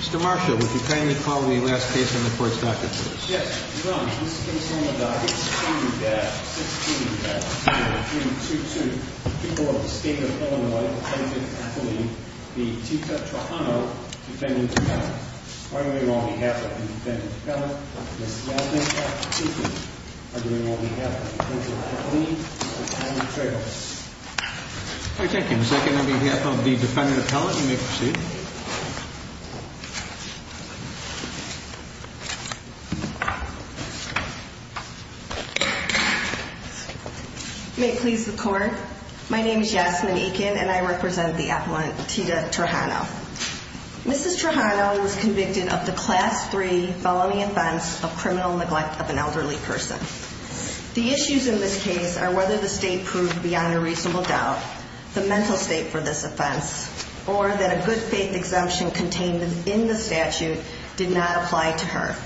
Mr. Marshall, would you kindly call the last case in the court's docket, please? Yes, Your Honor. This case is on the docket 16-22. The people of the State of Illinois, Appellant Kathleen v. Tito Trejano, Defendant Appellant. Arguing on behalf of the Defendant Appellant, Ms. Galvin, Tito. Arguing on behalf of Appellant Kathleen, Defendant Trejano. Thank you. Second, on behalf of the Defendant Appellant, you may proceed. You may please the court. My name is Yasmin Ekin, and I represent the Appellant Tito Trejano. Mrs. Trejano was convicted of the Class III felony offense of criminal neglect of an elderly person. The issues in this case are whether the State proved beyond a reasonable doubt the mental state for this offense, or that a good faith exemption contained in the statute did not apply to her.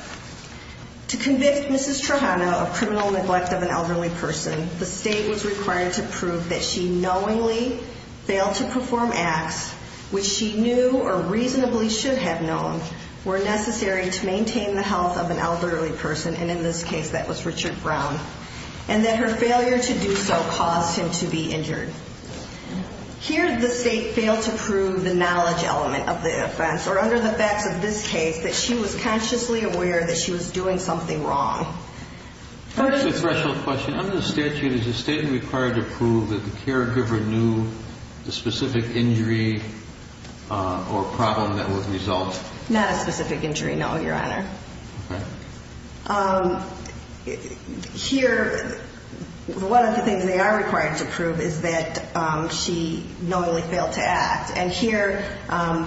To convict Mrs. Trejano of criminal neglect of an elderly person, the State was required to prove that she knowingly failed to perform acts which she knew or reasonably should have known were necessary to maintain the health of an elderly person, and in this case, that was Richard Brown, and that her failure to do so caused him to be injured. Here, the State failed to prove the knowledge element of the offense, or under the facts of this case, that she was consciously aware that she was doing something wrong. Under the statute, is the State required to prove that the caregiver knew the specific injury or problem that would result? Not a specific injury, no, Your Honor. Here, one of the things they are required to prove is that she knowingly failed to act, and here,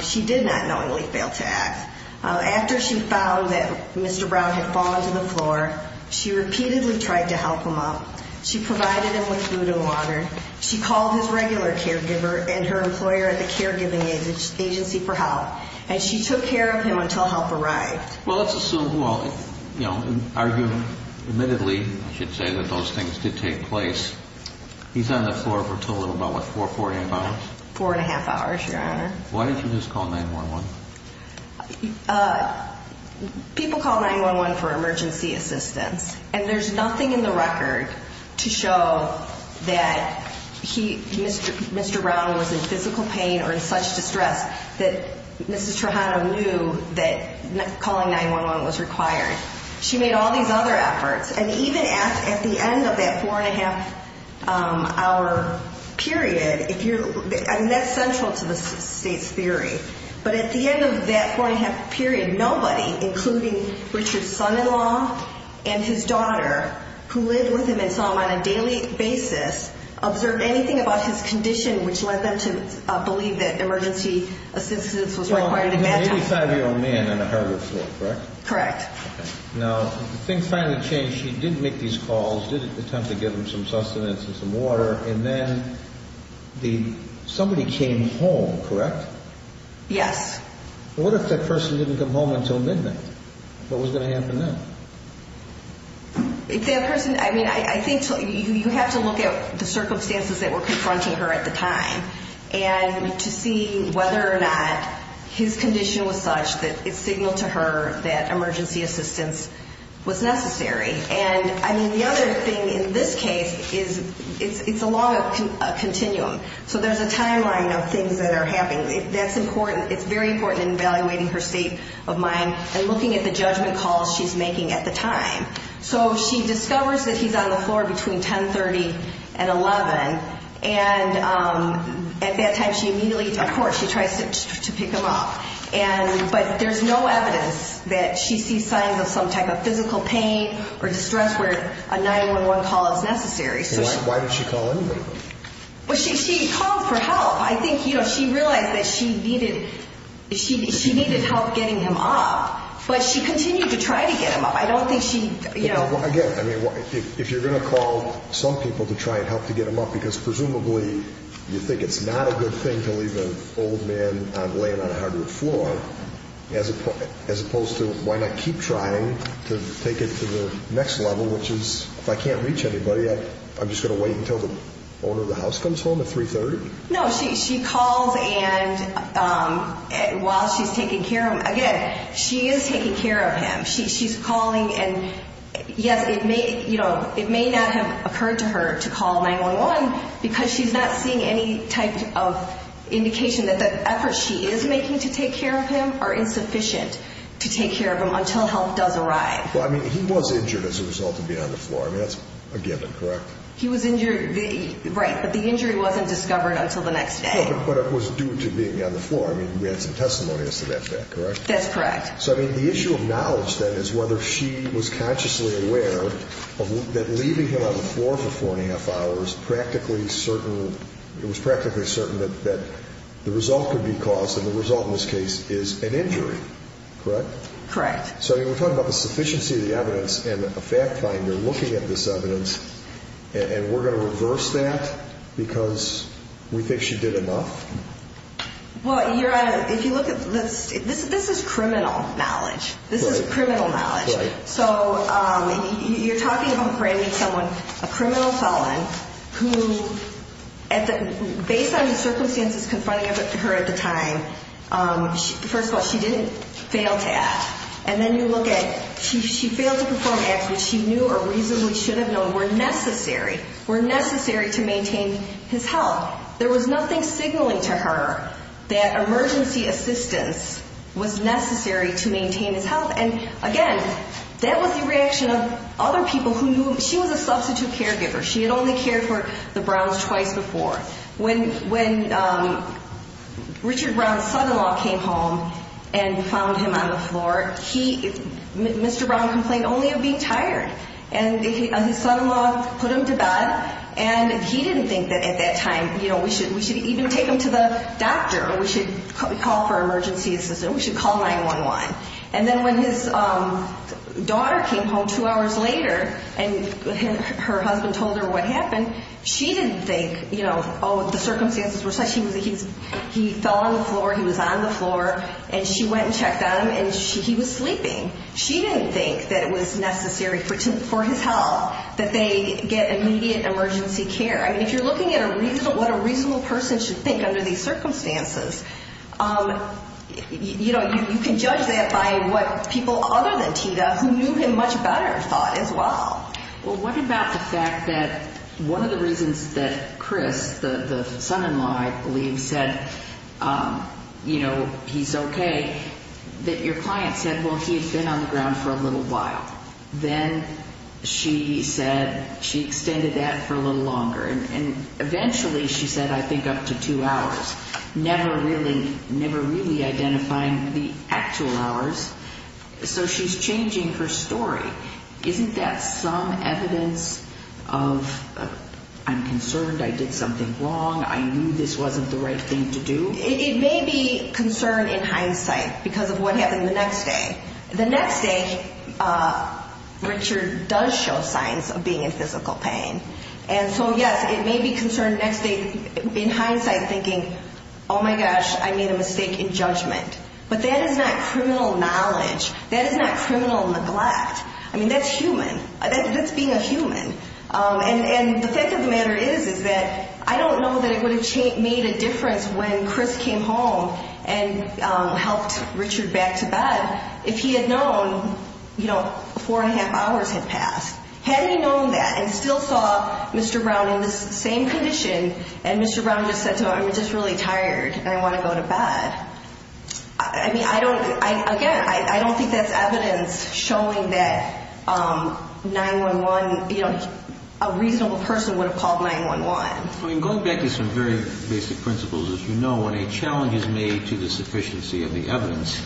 she did not knowingly fail to act. After she found that Mr. Brown had fallen to the floor, she repeatedly tried to help him up. She provided him with food and water. She called his regular caregiver and her employer at the Caregiving Agency for Health, and she took care of him until help arrived. Well, let's assume, well, you know, arguing admittedly, I should say, that those things did take place, he's on the floor for a total of about, what, four, four and a half hours? Four and a half hours, Your Honor. Why didn't you just call 911? People call 911 for emergency assistance, and there's nothing in the record to show that Mr. Brown was in physical pain or in such distress that Mrs. Trujano knew that calling 911 was required. She made all these other efforts, and even at the end of that four and a half hour period, if you're, I mean, that's central to the State's theory, but at the end of that four and a half period, nobody, including Richard's son-in-law and his daughter, who lived with him and saw him on a daily basis, observed anything about his condition which led them to believe that emergency assistance was required. He was an 85-year-old man on a hardwood floor, correct? Correct. Now, things finally changed. She did make these calls, did attempt to give him some sustenance and some water, and then somebody came home, correct? Yes. What if that person didn't come home until midnight? What was going to happen then? If that person, I mean, I think you have to look at the circumstances that were confronting her at the time and to see whether or not his condition was such that it signaled to her that emergency assistance was necessary. And, I mean, the other thing in this case is it's along a continuum, so there's a timeline of things that are happening. That's important. It's very important in evaluating her state of mind and looking at the judgment calls she's making at the time. So she discovers that he's on the floor between 10.30 and 11, and at that time she immediately, of course, she tries to pick him up. But there's no evidence that she sees signs of some type of physical pain or distress where a 911 call is necessary. Why did she call anybody? Well, she called for help. I think, you know, she realized that she needed help getting him up, but she continued to try to get him up. I don't think she, you know. Again, I mean, if you're going to call some people to try and help to get him up, because presumably you think it's not a good thing to leave an old man laying on a hardwood floor, as opposed to why not keep trying to take it to the next level, which is if I can't reach anybody, I'm just going to wait until the owner of the house comes home at 3.30? No, she calls while she's taking care of him. Again, she is taking care of him. She's calling, and yes, it may not have occurred to her to call 911 because she's not seeing any type of indication that the efforts she is making to take care of him are insufficient to take care of him until help does arrive. Well, I mean, he was injured as a result of being on the floor. I mean, that's a given, correct? He was injured. Right, but the injury wasn't discovered until the next day. But it was due to being on the floor. I mean, we had some testimony as to that fact, correct? That's correct. So, I mean, the issue of knowledge, then, is whether she was consciously aware that leaving him on the floor for four and a half hours practically certain, it was practically certain that the result could be caused, and the result in this case is an injury, correct? Correct. So, I mean, we're talking about the sufficiency of the evidence and a fact finder looking at this evidence, and we're going to reverse that because we think she did enough? Well, if you look at this, this is criminal knowledge. This is criminal knowledge. Right. So you're talking about framing someone, a criminal felon, who based on the circumstances confronting her at the time, first of all, she didn't fail to act. And then you look at she failed to perform acts which she knew or reasonably should have known were necessary, were necessary to maintain his health. There was nothing signaling to her that emergency assistance was necessary to maintain his health. And, again, that was the reaction of other people who knew him. She was a substitute caregiver. She had only cared for the Browns twice before. When Richard Brown's son-in-law came home and found him on the floor, Mr. Brown complained only of being tired, and his son-in-law put him to bed, and he didn't think that at that time we should even take him to the doctor or we should call for emergency assistance, we should call 911. And then when his daughter came home two hours later and her husband told her what happened, she didn't think, you know, oh, the circumstances were such. He fell on the floor, he was on the floor, and she went and checked on him, and he was sleeping. She didn't think that it was necessary for his health that they get immediate emergency care. I mean, if you're looking at what a reasonable person should think under these circumstances, you know, you can judge that by what people other than Tita, who knew him much better, thought as well. Well, what about the fact that one of the reasons that Chris, the son-in-law, I believe, said, you know, he's okay, that your client said, well, he had been on the ground for a little while. Then she said she extended that for a little longer, and eventually she said, I think, up to two hours, never really identifying the actual hours, so she's changing her story. Isn't that some evidence of I'm concerned, I did something wrong, I knew this wasn't the right thing to do? It may be concern in hindsight because of what happened the next day. The next day, Richard does show signs of being in physical pain. And so, yes, it may be concern in hindsight thinking, oh, my gosh, I made a mistake in judgment. But that is not criminal knowledge. That is not criminal neglect. I mean, that's human. That's being a human. And the fact of the matter is, is that I don't know that it would have made a difference when Chris came home and helped Richard back to bed if he had known, you know, four and a half hours had passed. Had he known that and still saw Mr. Brown in the same condition and Mr. Brown just said to him, I'm just really tired and I want to go to bed, I mean, I don't, again, I don't think that's evidence showing that 9-1-1, you know, a reasonable person would have called 9-1-1. I mean, going back to some very basic principles, as you know, when a challenge is made to the sufficiency of the evidence,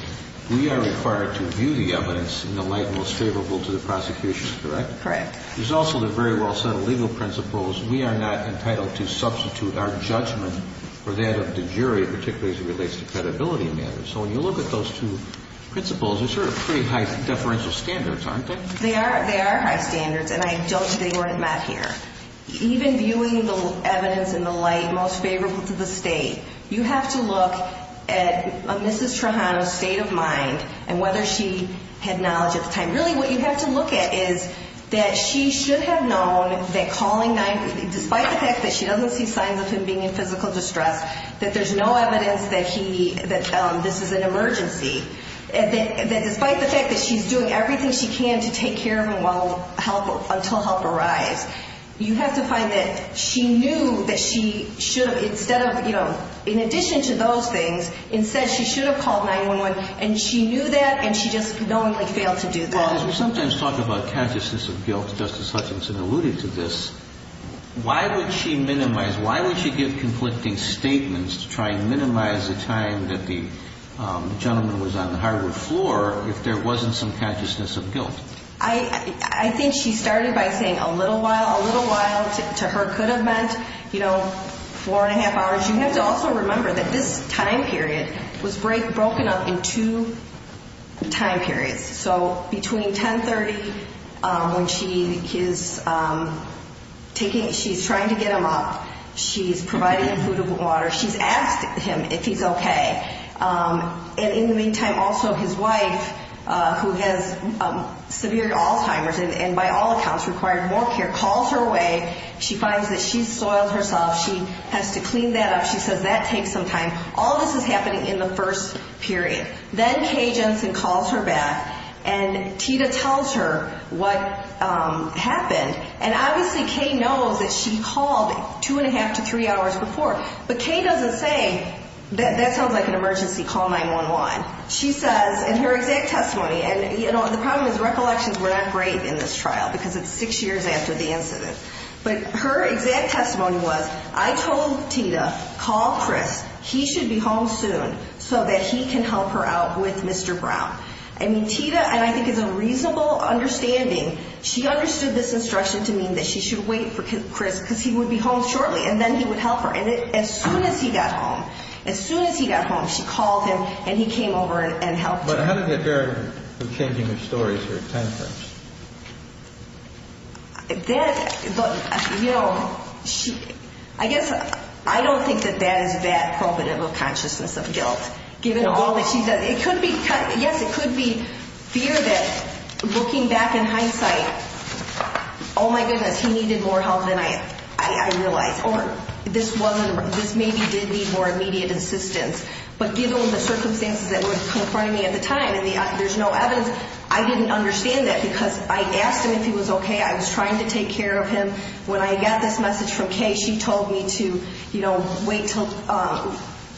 we are required to view the evidence in the light most favorable to the prosecution, correct? Correct. There's also the very well-settled legal principles. We are not entitled to substitute our judgment for that of the jury, particularly as it relates to credibility matters. So when you look at those two principles, they're sort of pretty high deferential standards, aren't they? They are high standards, and I don't think they weren't met here. Even viewing the evidence in the light most favorable to the state, you have to look at Mrs. Trujano's state of mind and whether she had knowledge at the time. Really, what you have to look at is that she should have known that calling 9-1-1, despite the fact that she doesn't see signs of him being in physical distress, that there's no evidence that this is an emergency, that despite the fact that she's doing everything she can to take care of him until help arrives, you have to find that she knew that she should have, instead of, you know, in addition to those things, instead she should have called 9-1-1, and she knew that and she just knowingly failed to do that. As we sometimes talk about consciousness of guilt, Justice Hutchinson alluded to this, why would she minimize, why would she give conflicting statements to try and minimize the time that the gentleman was on the hardwood floor if there wasn't some consciousness of guilt? I think she started by saying a little while. A little while to her could have meant, you know, four and a half hours. You have to also remember that this time period was broken up into time periods. So between 10-30, when she is taking, she's trying to get him up, she's providing him food and water, she's asked him if he's okay, and in the meantime also his wife, who has severe Alzheimer's and by all accounts required more care, calls her away. She finds that she's soiled herself. She has to clean that up. She says that takes some time. All this is happening in the first period. Then Kay Jensen calls her back, and Tita tells her what happened, and obviously Kay knows that she called two and a half to three hours before, but Kay doesn't say, that sounds like an emergency, call 911. She says in her exact testimony, and the problem is recollections were not great in this trial because it's six years after the incident. But her exact testimony was, I told Tita, call Chris. He should be home soon so that he can help her out with Mr. Brown. I mean, Tita, and I think it's a reasonable understanding, she understood this instruction to mean that she should wait for Chris because he would be home shortly, and then he would help her. And as soon as he got home, as soon as he got home, she called him, and he came over and helped her. But how does that bear with changing the stories here at 10-30? That, you know, I guess I don't think that that is that probative of consciousness of guilt. No. It could be, yes, it could be fear that looking back in hindsight, oh, my goodness, he needed more help than I realized, or this maybe did need more immediate assistance. But given the circumstances that were in front of me at the time, and there's no evidence, I didn't understand that because I asked him if he was okay. I was trying to take care of him. When I got this message from Kay, she told me to, you know, wait until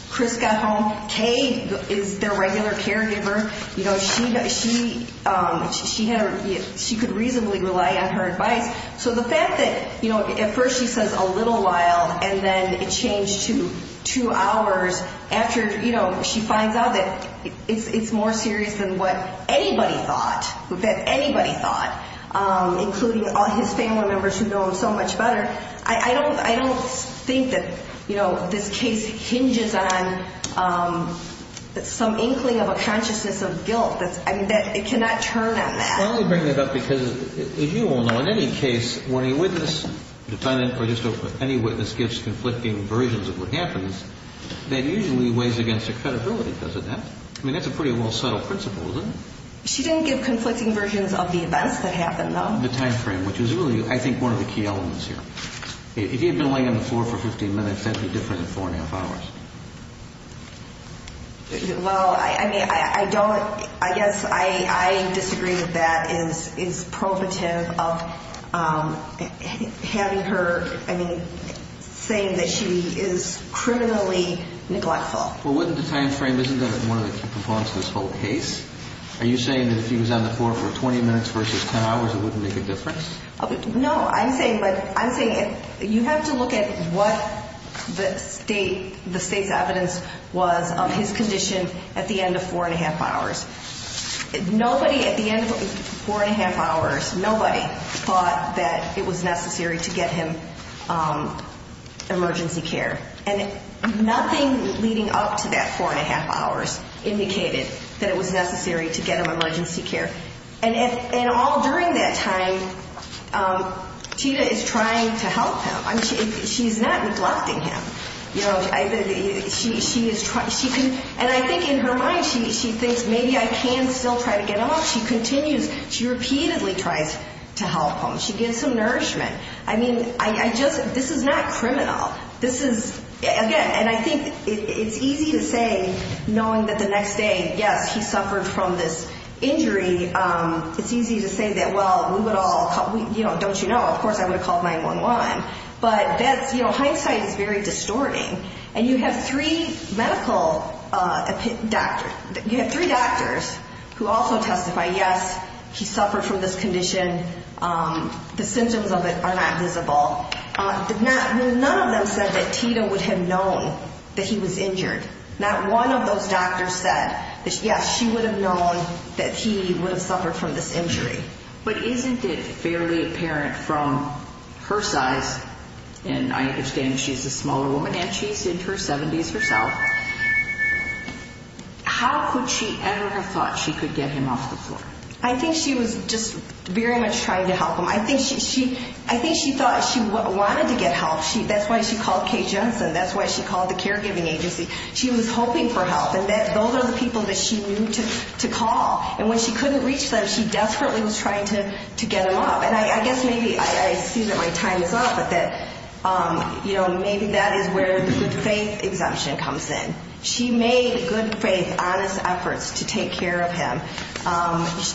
Chris got home. Kay is their regular caregiver. You know, she could reasonably rely on her advice. So the fact that, you know, at first she says a little while, and then it changed to two hours after, you know, she finds out that it's more serious than what anybody thought, that anybody thought, including all his family members who know him so much better. I don't think that, you know, this case hinges on some inkling of a consciousness of guilt. I mean, it cannot turn on that. I'm only bringing it up because, as you all know, in any case, when a witness, defendant or just any witness, gives conflicting versions of what happens, that usually weighs against their credibility, doesn't it? I mean, that's a pretty well-settled principle, isn't it? She didn't give conflicting versions of the events that happened, though. The time frame, which is really, I think, one of the key elements here. If he had been laying on the floor for 15 minutes, that would be different than four and a half hours. Well, I mean, I don't, I guess I disagree with that. It's probative of having her, I mean, saying that she is criminally neglectful. Well, wouldn't the time frame, isn't that one of the key components of this whole case? Are you saying that if he was on the floor for 20 minutes versus 10 hours, it wouldn't make a difference? No, I'm saying, you have to look at what the state's evidence was of his condition at the end of four and a half hours. Nobody at the end of four and a half hours, nobody thought that it was necessary to get him emergency care. And nothing leading up to that four and a half hours indicated that it was necessary to get him emergency care. And all during that time, Tina is trying to help him. I mean, she's not neglecting him. You know, she is trying, she can, and I think in her mind, she thinks maybe I can still try to get him off. She continues, she repeatedly tries to help him. She gives him nourishment. I mean, I just, this is not criminal. This is, again, and I think it's easy to say, knowing that the next day, yes, he suffered from this injury. It's easy to say that, well, we would all, you know, don't you know, of course I would have called 911. But that's, you know, hindsight is very distorting. And you have three medical doctors, you have three doctors who also testify, yes, he suffered from this condition. The symptoms of it are not visible. None of them said that Tina would have known that he was injured. Not one of those doctors said that, yes, she would have known that he would have suffered from this injury. But isn't it fairly apparent from her size, and I understand she's a smaller woman and she's in her 70s herself, how could she ever have thought she could get him off the floor? I think she was just very much trying to help him. I think she thought she wanted to get help. That's why she called Kay Jensen. That's why she called the caregiving agency. She was hoping for help. And those are the people that she knew to call. And when she couldn't reach them, she desperately was trying to get them up. And I guess maybe I see that my time is up, but that, you know, maybe that is where the good faith exemption comes in. She made good faith, honest efforts to take care of him.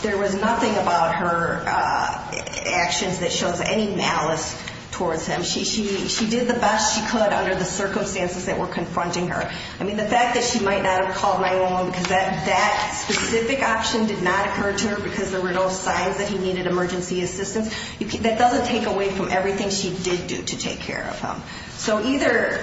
There was nothing about her actions that shows any malice towards him. She did the best she could under the circumstances that were confronting her. I mean, the fact that she might not have called 911 because that specific option did not occur to her because there were no signs that he needed emergency assistance, that doesn't take away from everything she did do to take care of him. So either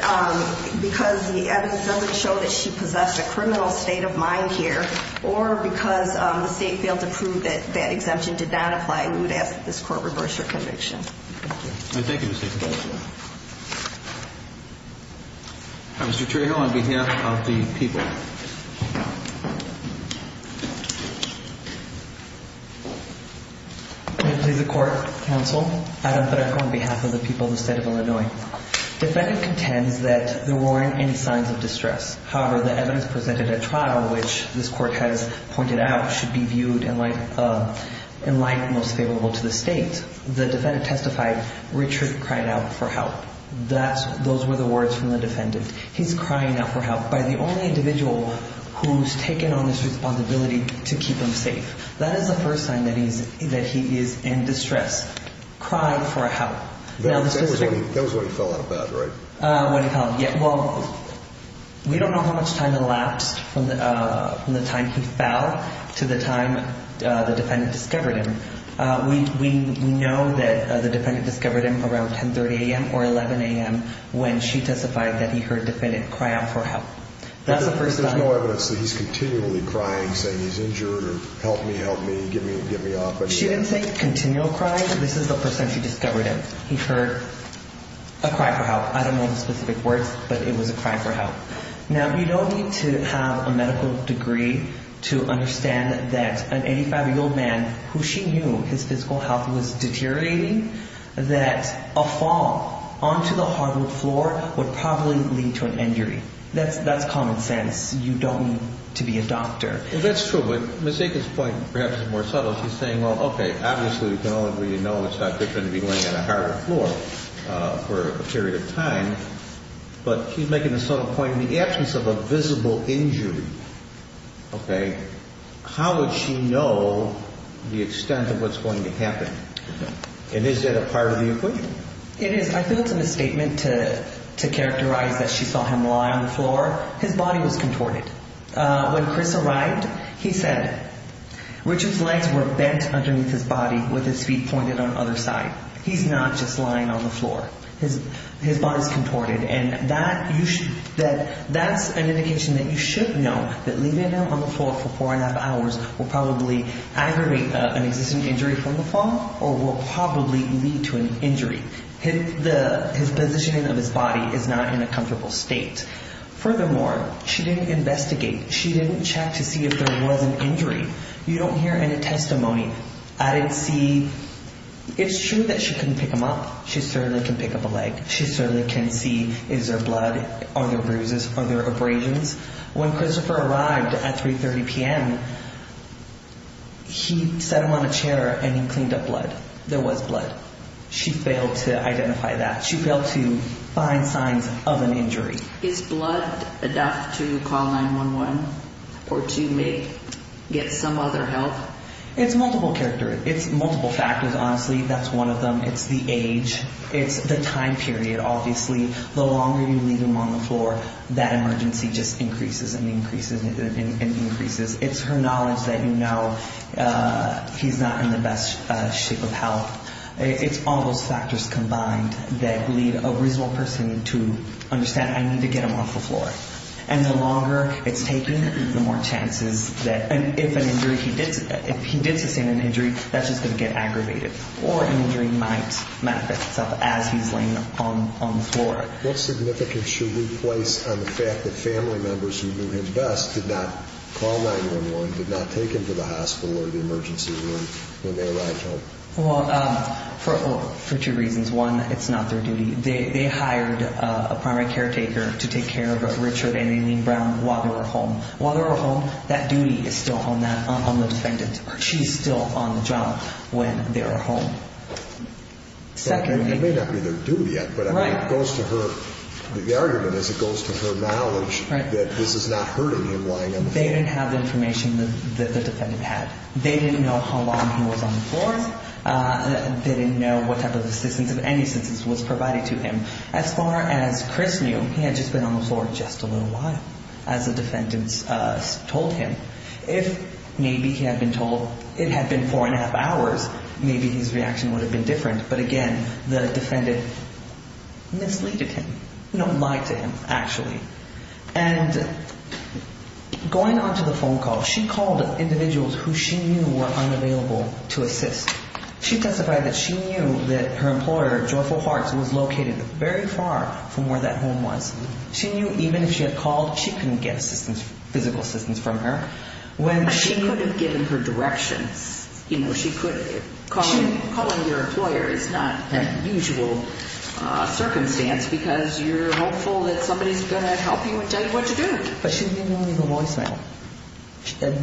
because the evidence doesn't show that she possessed a criminal state of mind here or because the state failed to prove that that exemption did not apply, we would ask that this court reverse her conviction. Thank you, Mr. Trejo. Mr. Trejo, on behalf of the people. Good day to the court, counsel. Adam Trejo on behalf of the people of the state of Illinois. Defendant contends that there weren't any signs of distress. However, the evidence presented at trial, which this court has pointed out, should be viewed in light most favorable to the state. When the defendant testified, Richard cried out for help. Those were the words from the defendant. He's crying out for help by the only individual who's taken on this responsibility to keep him safe. That is the first sign that he is in distress, crying for help. That was when he fell out of bed, right? When he fell, yeah. Well, we don't know how much time elapsed from the time he fell to the time the defendant discovered him. We know that the defendant discovered him around 10.30 a.m. or 11 a.m. when she testified that he heard the defendant cry out for help. That's the first sign. There's no evidence that he's continually crying, saying he's injured or help me, help me, get me up. She didn't say continual crying. This is the first time she discovered him. He heard a cry for help. I don't know the specific words, but it was a cry for help. Now, you don't need to have a medical degree to understand that an 85-year-old man who she knew his physical health was deteriorating, that a fall onto the hardwood floor would probably lead to an injury. That's common sense. You don't need to be a doctor. Well, that's true. But Ms. Aiken's point perhaps is more subtle. She's saying, well, okay, obviously we can all agree to know it's not different to be laying on a hardwood floor for a period of time. But she's making a subtle point. In the absence of a visible injury, okay, how would she know the extent of what's going to happen? And is that a part of the equation? It is. I feel it's a misstatement to characterize that she saw him lie on the floor. His body was contorted. When Chris arrived, he said Richard's legs were bent underneath his body with his feet pointed on either side. His body is contorted. And that's an indication that you should know that leaving him on the floor for four and a half hours will probably aggravate an existing injury from the fall or will probably lead to an injury. His positioning of his body is not in a comfortable state. Furthermore, she didn't investigate. She didn't check to see if there was an injury. You don't hear any testimony. I didn't see. It's true that she couldn't pick him up. She certainly can pick up a leg. She certainly can see, is there blood? Are there bruises? Are there abrasions? When Christopher arrived at 3.30 p.m., he sat him on a chair and he cleaned up blood. There was blood. She failed to identify that. She failed to find signs of an injury. Is blood enough to call 911 or to get some other help? It's multiple character. It's multiple factors, honestly. That's one of them. It's the age. It's the time period, obviously. The longer you leave him on the floor, that emergency just increases and increases and increases. It's her knowledge that you know he's not in the best shape of health. It's all those factors combined that lead a reasonable person to understand, I need to get him off the floor. And the longer it's taking, the more chances that if an injury, if he did sustain an injury, that's just going to get aggravated or an injury might manifest itself as he's laying on the floor. What significance should we place on the fact that family members who knew him best did not call 911, did not take him to the hospital or the emergency room when they arrived home? Well, for two reasons. One, it's not their duty. They hired a primary caretaker to take care of Richard and Aileen Brown while they were home. While they were home, that duty is still on the defendant. She's still on the job when they were home. It may not be their duty yet, but it goes to her. The argument is it goes to her knowledge that this is not hurting him lying on the floor. They didn't have the information that the defendant had. They didn't know how long he was on the floor. They didn't know what type of assistance, if any assistance was provided to him. As far as Chris knew, he had just been on the floor just a little while, as the defendant told him. If maybe he had been told it had been four and a half hours, maybe his reaction would have been different. But again, the defendant mislead him, lied to him, actually. And going on to the phone call, she called individuals who she knew were unavailable to assist. She testified that she knew that her employer, Joyful Hearts, was located very far from where that home was. She knew even if she had called, she couldn't get assistance, physical assistance from her. She could have given her directions. You know, she could have called. Calling your employer is not a usual circumstance because you're hopeful that somebody is going to help you and tell you what to do. But she didn't know any of the voicemail.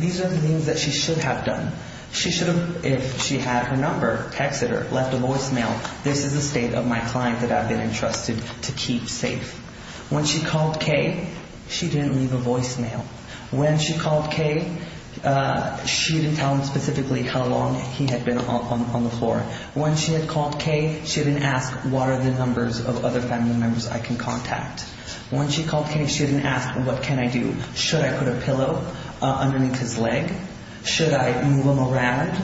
These are the things that she should have done. She should have, if she had her number, texted her, left a voicemail, this is the state of my client that I've been entrusted to keep safe. When she called Kay, she didn't leave a voicemail. When she called Kay, she didn't tell him specifically how long he had been on the floor. When she had called Kay, she didn't ask what are the numbers of other family members I can contact. When she called Kay, she didn't ask what can I do. Should I put a pillow underneath his leg? Should I move him around?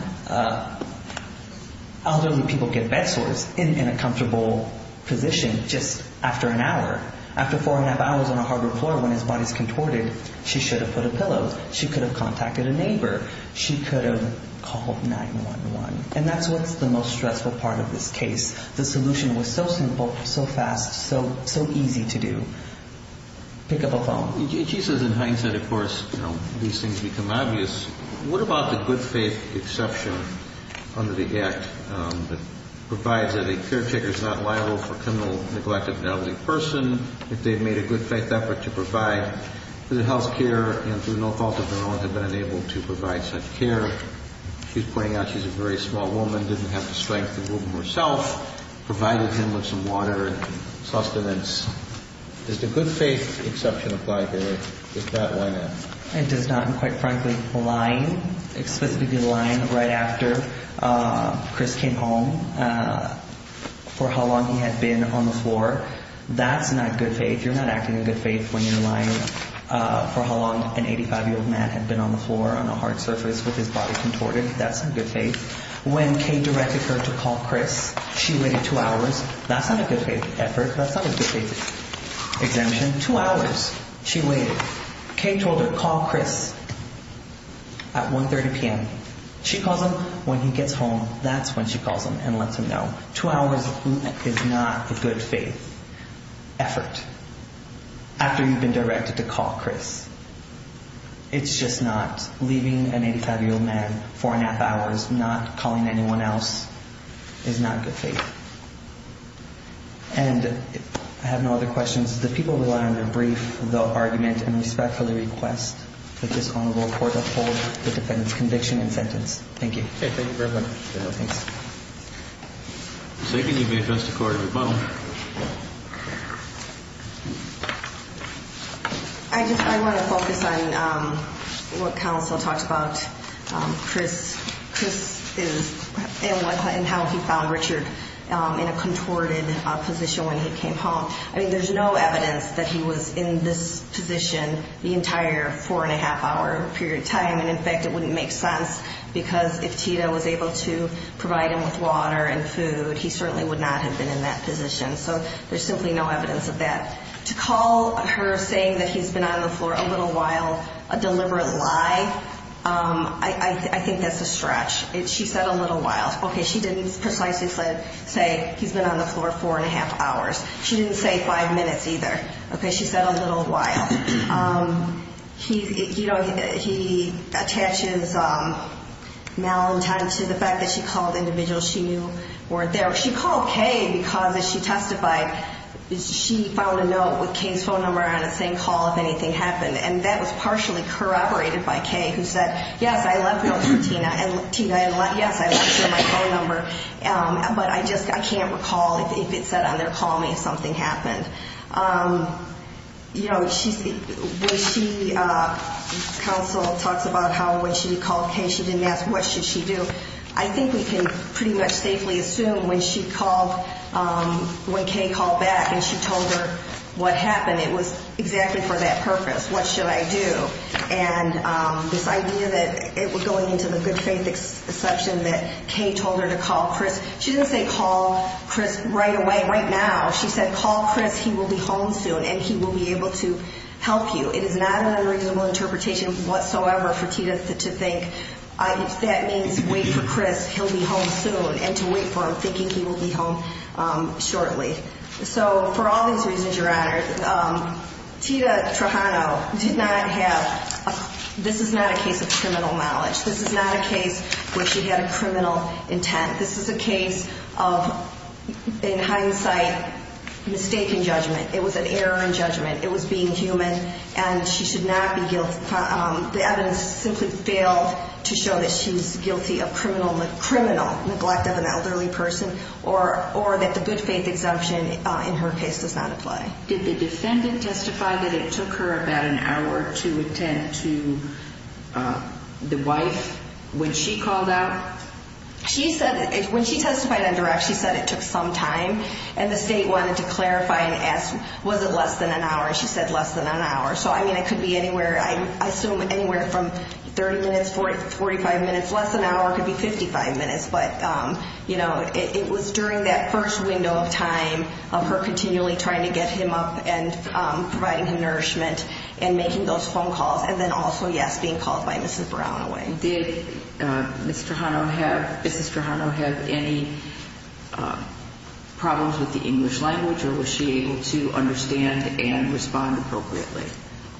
Elderly people get bed sores in a comfortable position just after an hour. After four and a half hours on a hardwood floor when his body is contorted, she should have put a pillow. She could have contacted a neighbor. She could have called 911. And that's what's the most stressful part of this case. The solution was so simple, so fast, so easy to do. Pick up a phone. She says in hindsight, of course, these things become obvious. What about the good faith exception under the Act that provides that a caretaker is not liable for criminal neglect of an elderly person? If they've made a good faith effort to provide good health care and through no fault of their own have been unable to provide such care. She's pointing out she's a very small woman, didn't have the strength to move him herself, provided him with some water and sustenance. Does the good faith exception apply here? If not, why not? It does not. And quite frankly, lying, explicitly lying right after Chris came home for how long he had been on the floor, that's not good faith. You're not acting in good faith when you're lying for how long an 85-year-old man had been on the floor on a hard surface with his body contorted. That's not good faith. When Kay directed her to call Chris, she waited two hours. That's not a good faith effort. That's not a good faith exemption. Two hours she waited. Kay told her, call Chris at 1.30 p.m. She calls him when he gets home. That's when she calls him and lets him know. Two hours is not a good faith effort after you've been directed to call Chris. It's just not. Leaving an 85-year-old man for an half hour, not calling anyone else, is not good faith. And I have no other questions. The people who are on the brief, they'll argument and respectfully request that this Honorable Court uphold the defendant's conviction and sentence. Thank you. You're welcome. Thanks. Second, you may address the Court of Rebuttal. I just want to focus on what counsel talked about Chris. Chris and how he found Richard in a contorted position when he came home. I mean, there's no evidence that he was in this position the entire four-and-a-half hour period of time. And, in fact, it wouldn't make sense because if Tito was able to provide him with water and food, he certainly would not have been in that position. So there's simply no evidence of that. To call her saying that he's been on the floor a little while a deliberate lie, I think that's a stretch. She said a little while. Okay, she didn't precisely say he's been on the floor four-and-a-half hours. She didn't say five minutes either. Okay, she said a little while. He attaches now and time to the fact that she called individuals she knew weren't there. She called Kay because, as she testified, she found a note with Kay's phone number on it saying, call if anything happened. And that was partially corroborated by Kay, who said, yes, I left notes for Tina, and Tina, yes, I left her my phone number. But I just can't recall if it said on their call me if something happened. You know, when she counsel talks about how when she called Kay, she didn't ask what should she do, I think we can pretty much safely assume when she called, when Kay called back and she told her what happened, it was exactly for that purpose, what should I do. And this idea that it was going into the good-faith section that Kay told her to call Chris, she didn't say call Chris right away, right now. She said, call Chris, he will be home soon and he will be able to help you. It is not an unreasonable interpretation whatsoever for Tina to think that means wait for Chris, he'll be home soon, and to wait for him thinking he will be home shortly. So for all these reasons, Your Honor, Tina Trujano did not have, this is not a case of criminal knowledge. This is not a case where she had a criminal intent. This is a case of, in hindsight, mistaken judgment. It was an error in judgment. It was being human and she should not be guilty. The evidence simply failed to show that she was guilty of criminal neglect of an elderly person or that the good-faith exemption in her case does not apply. Did the defendant testify that it took her about an hour to attend to the wife when she called out? She said, when she testified on direct, she said it took some time, and the state wanted to clarify and ask was it less than an hour. She said less than an hour. So, I mean, it could be anywhere, I assume anywhere from 30 minutes, 45 minutes, less than an hour, it could be 55 minutes, but, you know, it was during that first window of time of her continually trying to get him up and providing him nourishment and making those phone calls and then also, yes, being called by Mrs. Brown away. Did Mrs. Trujano have any problems with the English language or was she able to understand and respond appropriately?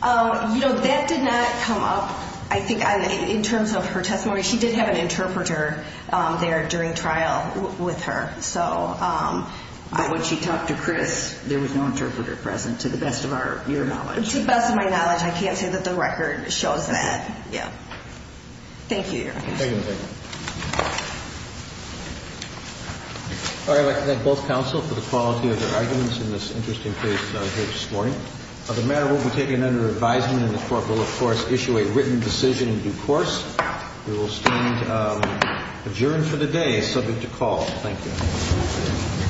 You know, that did not come up, I think, in terms of her testimony. She did have an interpreter there during trial with her. But when she talked to Chris, there was no interpreter present, to the best of your knowledge. To the best of my knowledge. I can't say that the record shows that. Yeah. Thank you, Your Honor. Thank you. Thank you. All right, I'd like to thank both counsel for the quality of their arguments in this interesting case here this morning. The matter will be taken under advisement, and the court will, of course, issue a written decision in due course. We will stand adjourned for the day, subject to call. Thank you.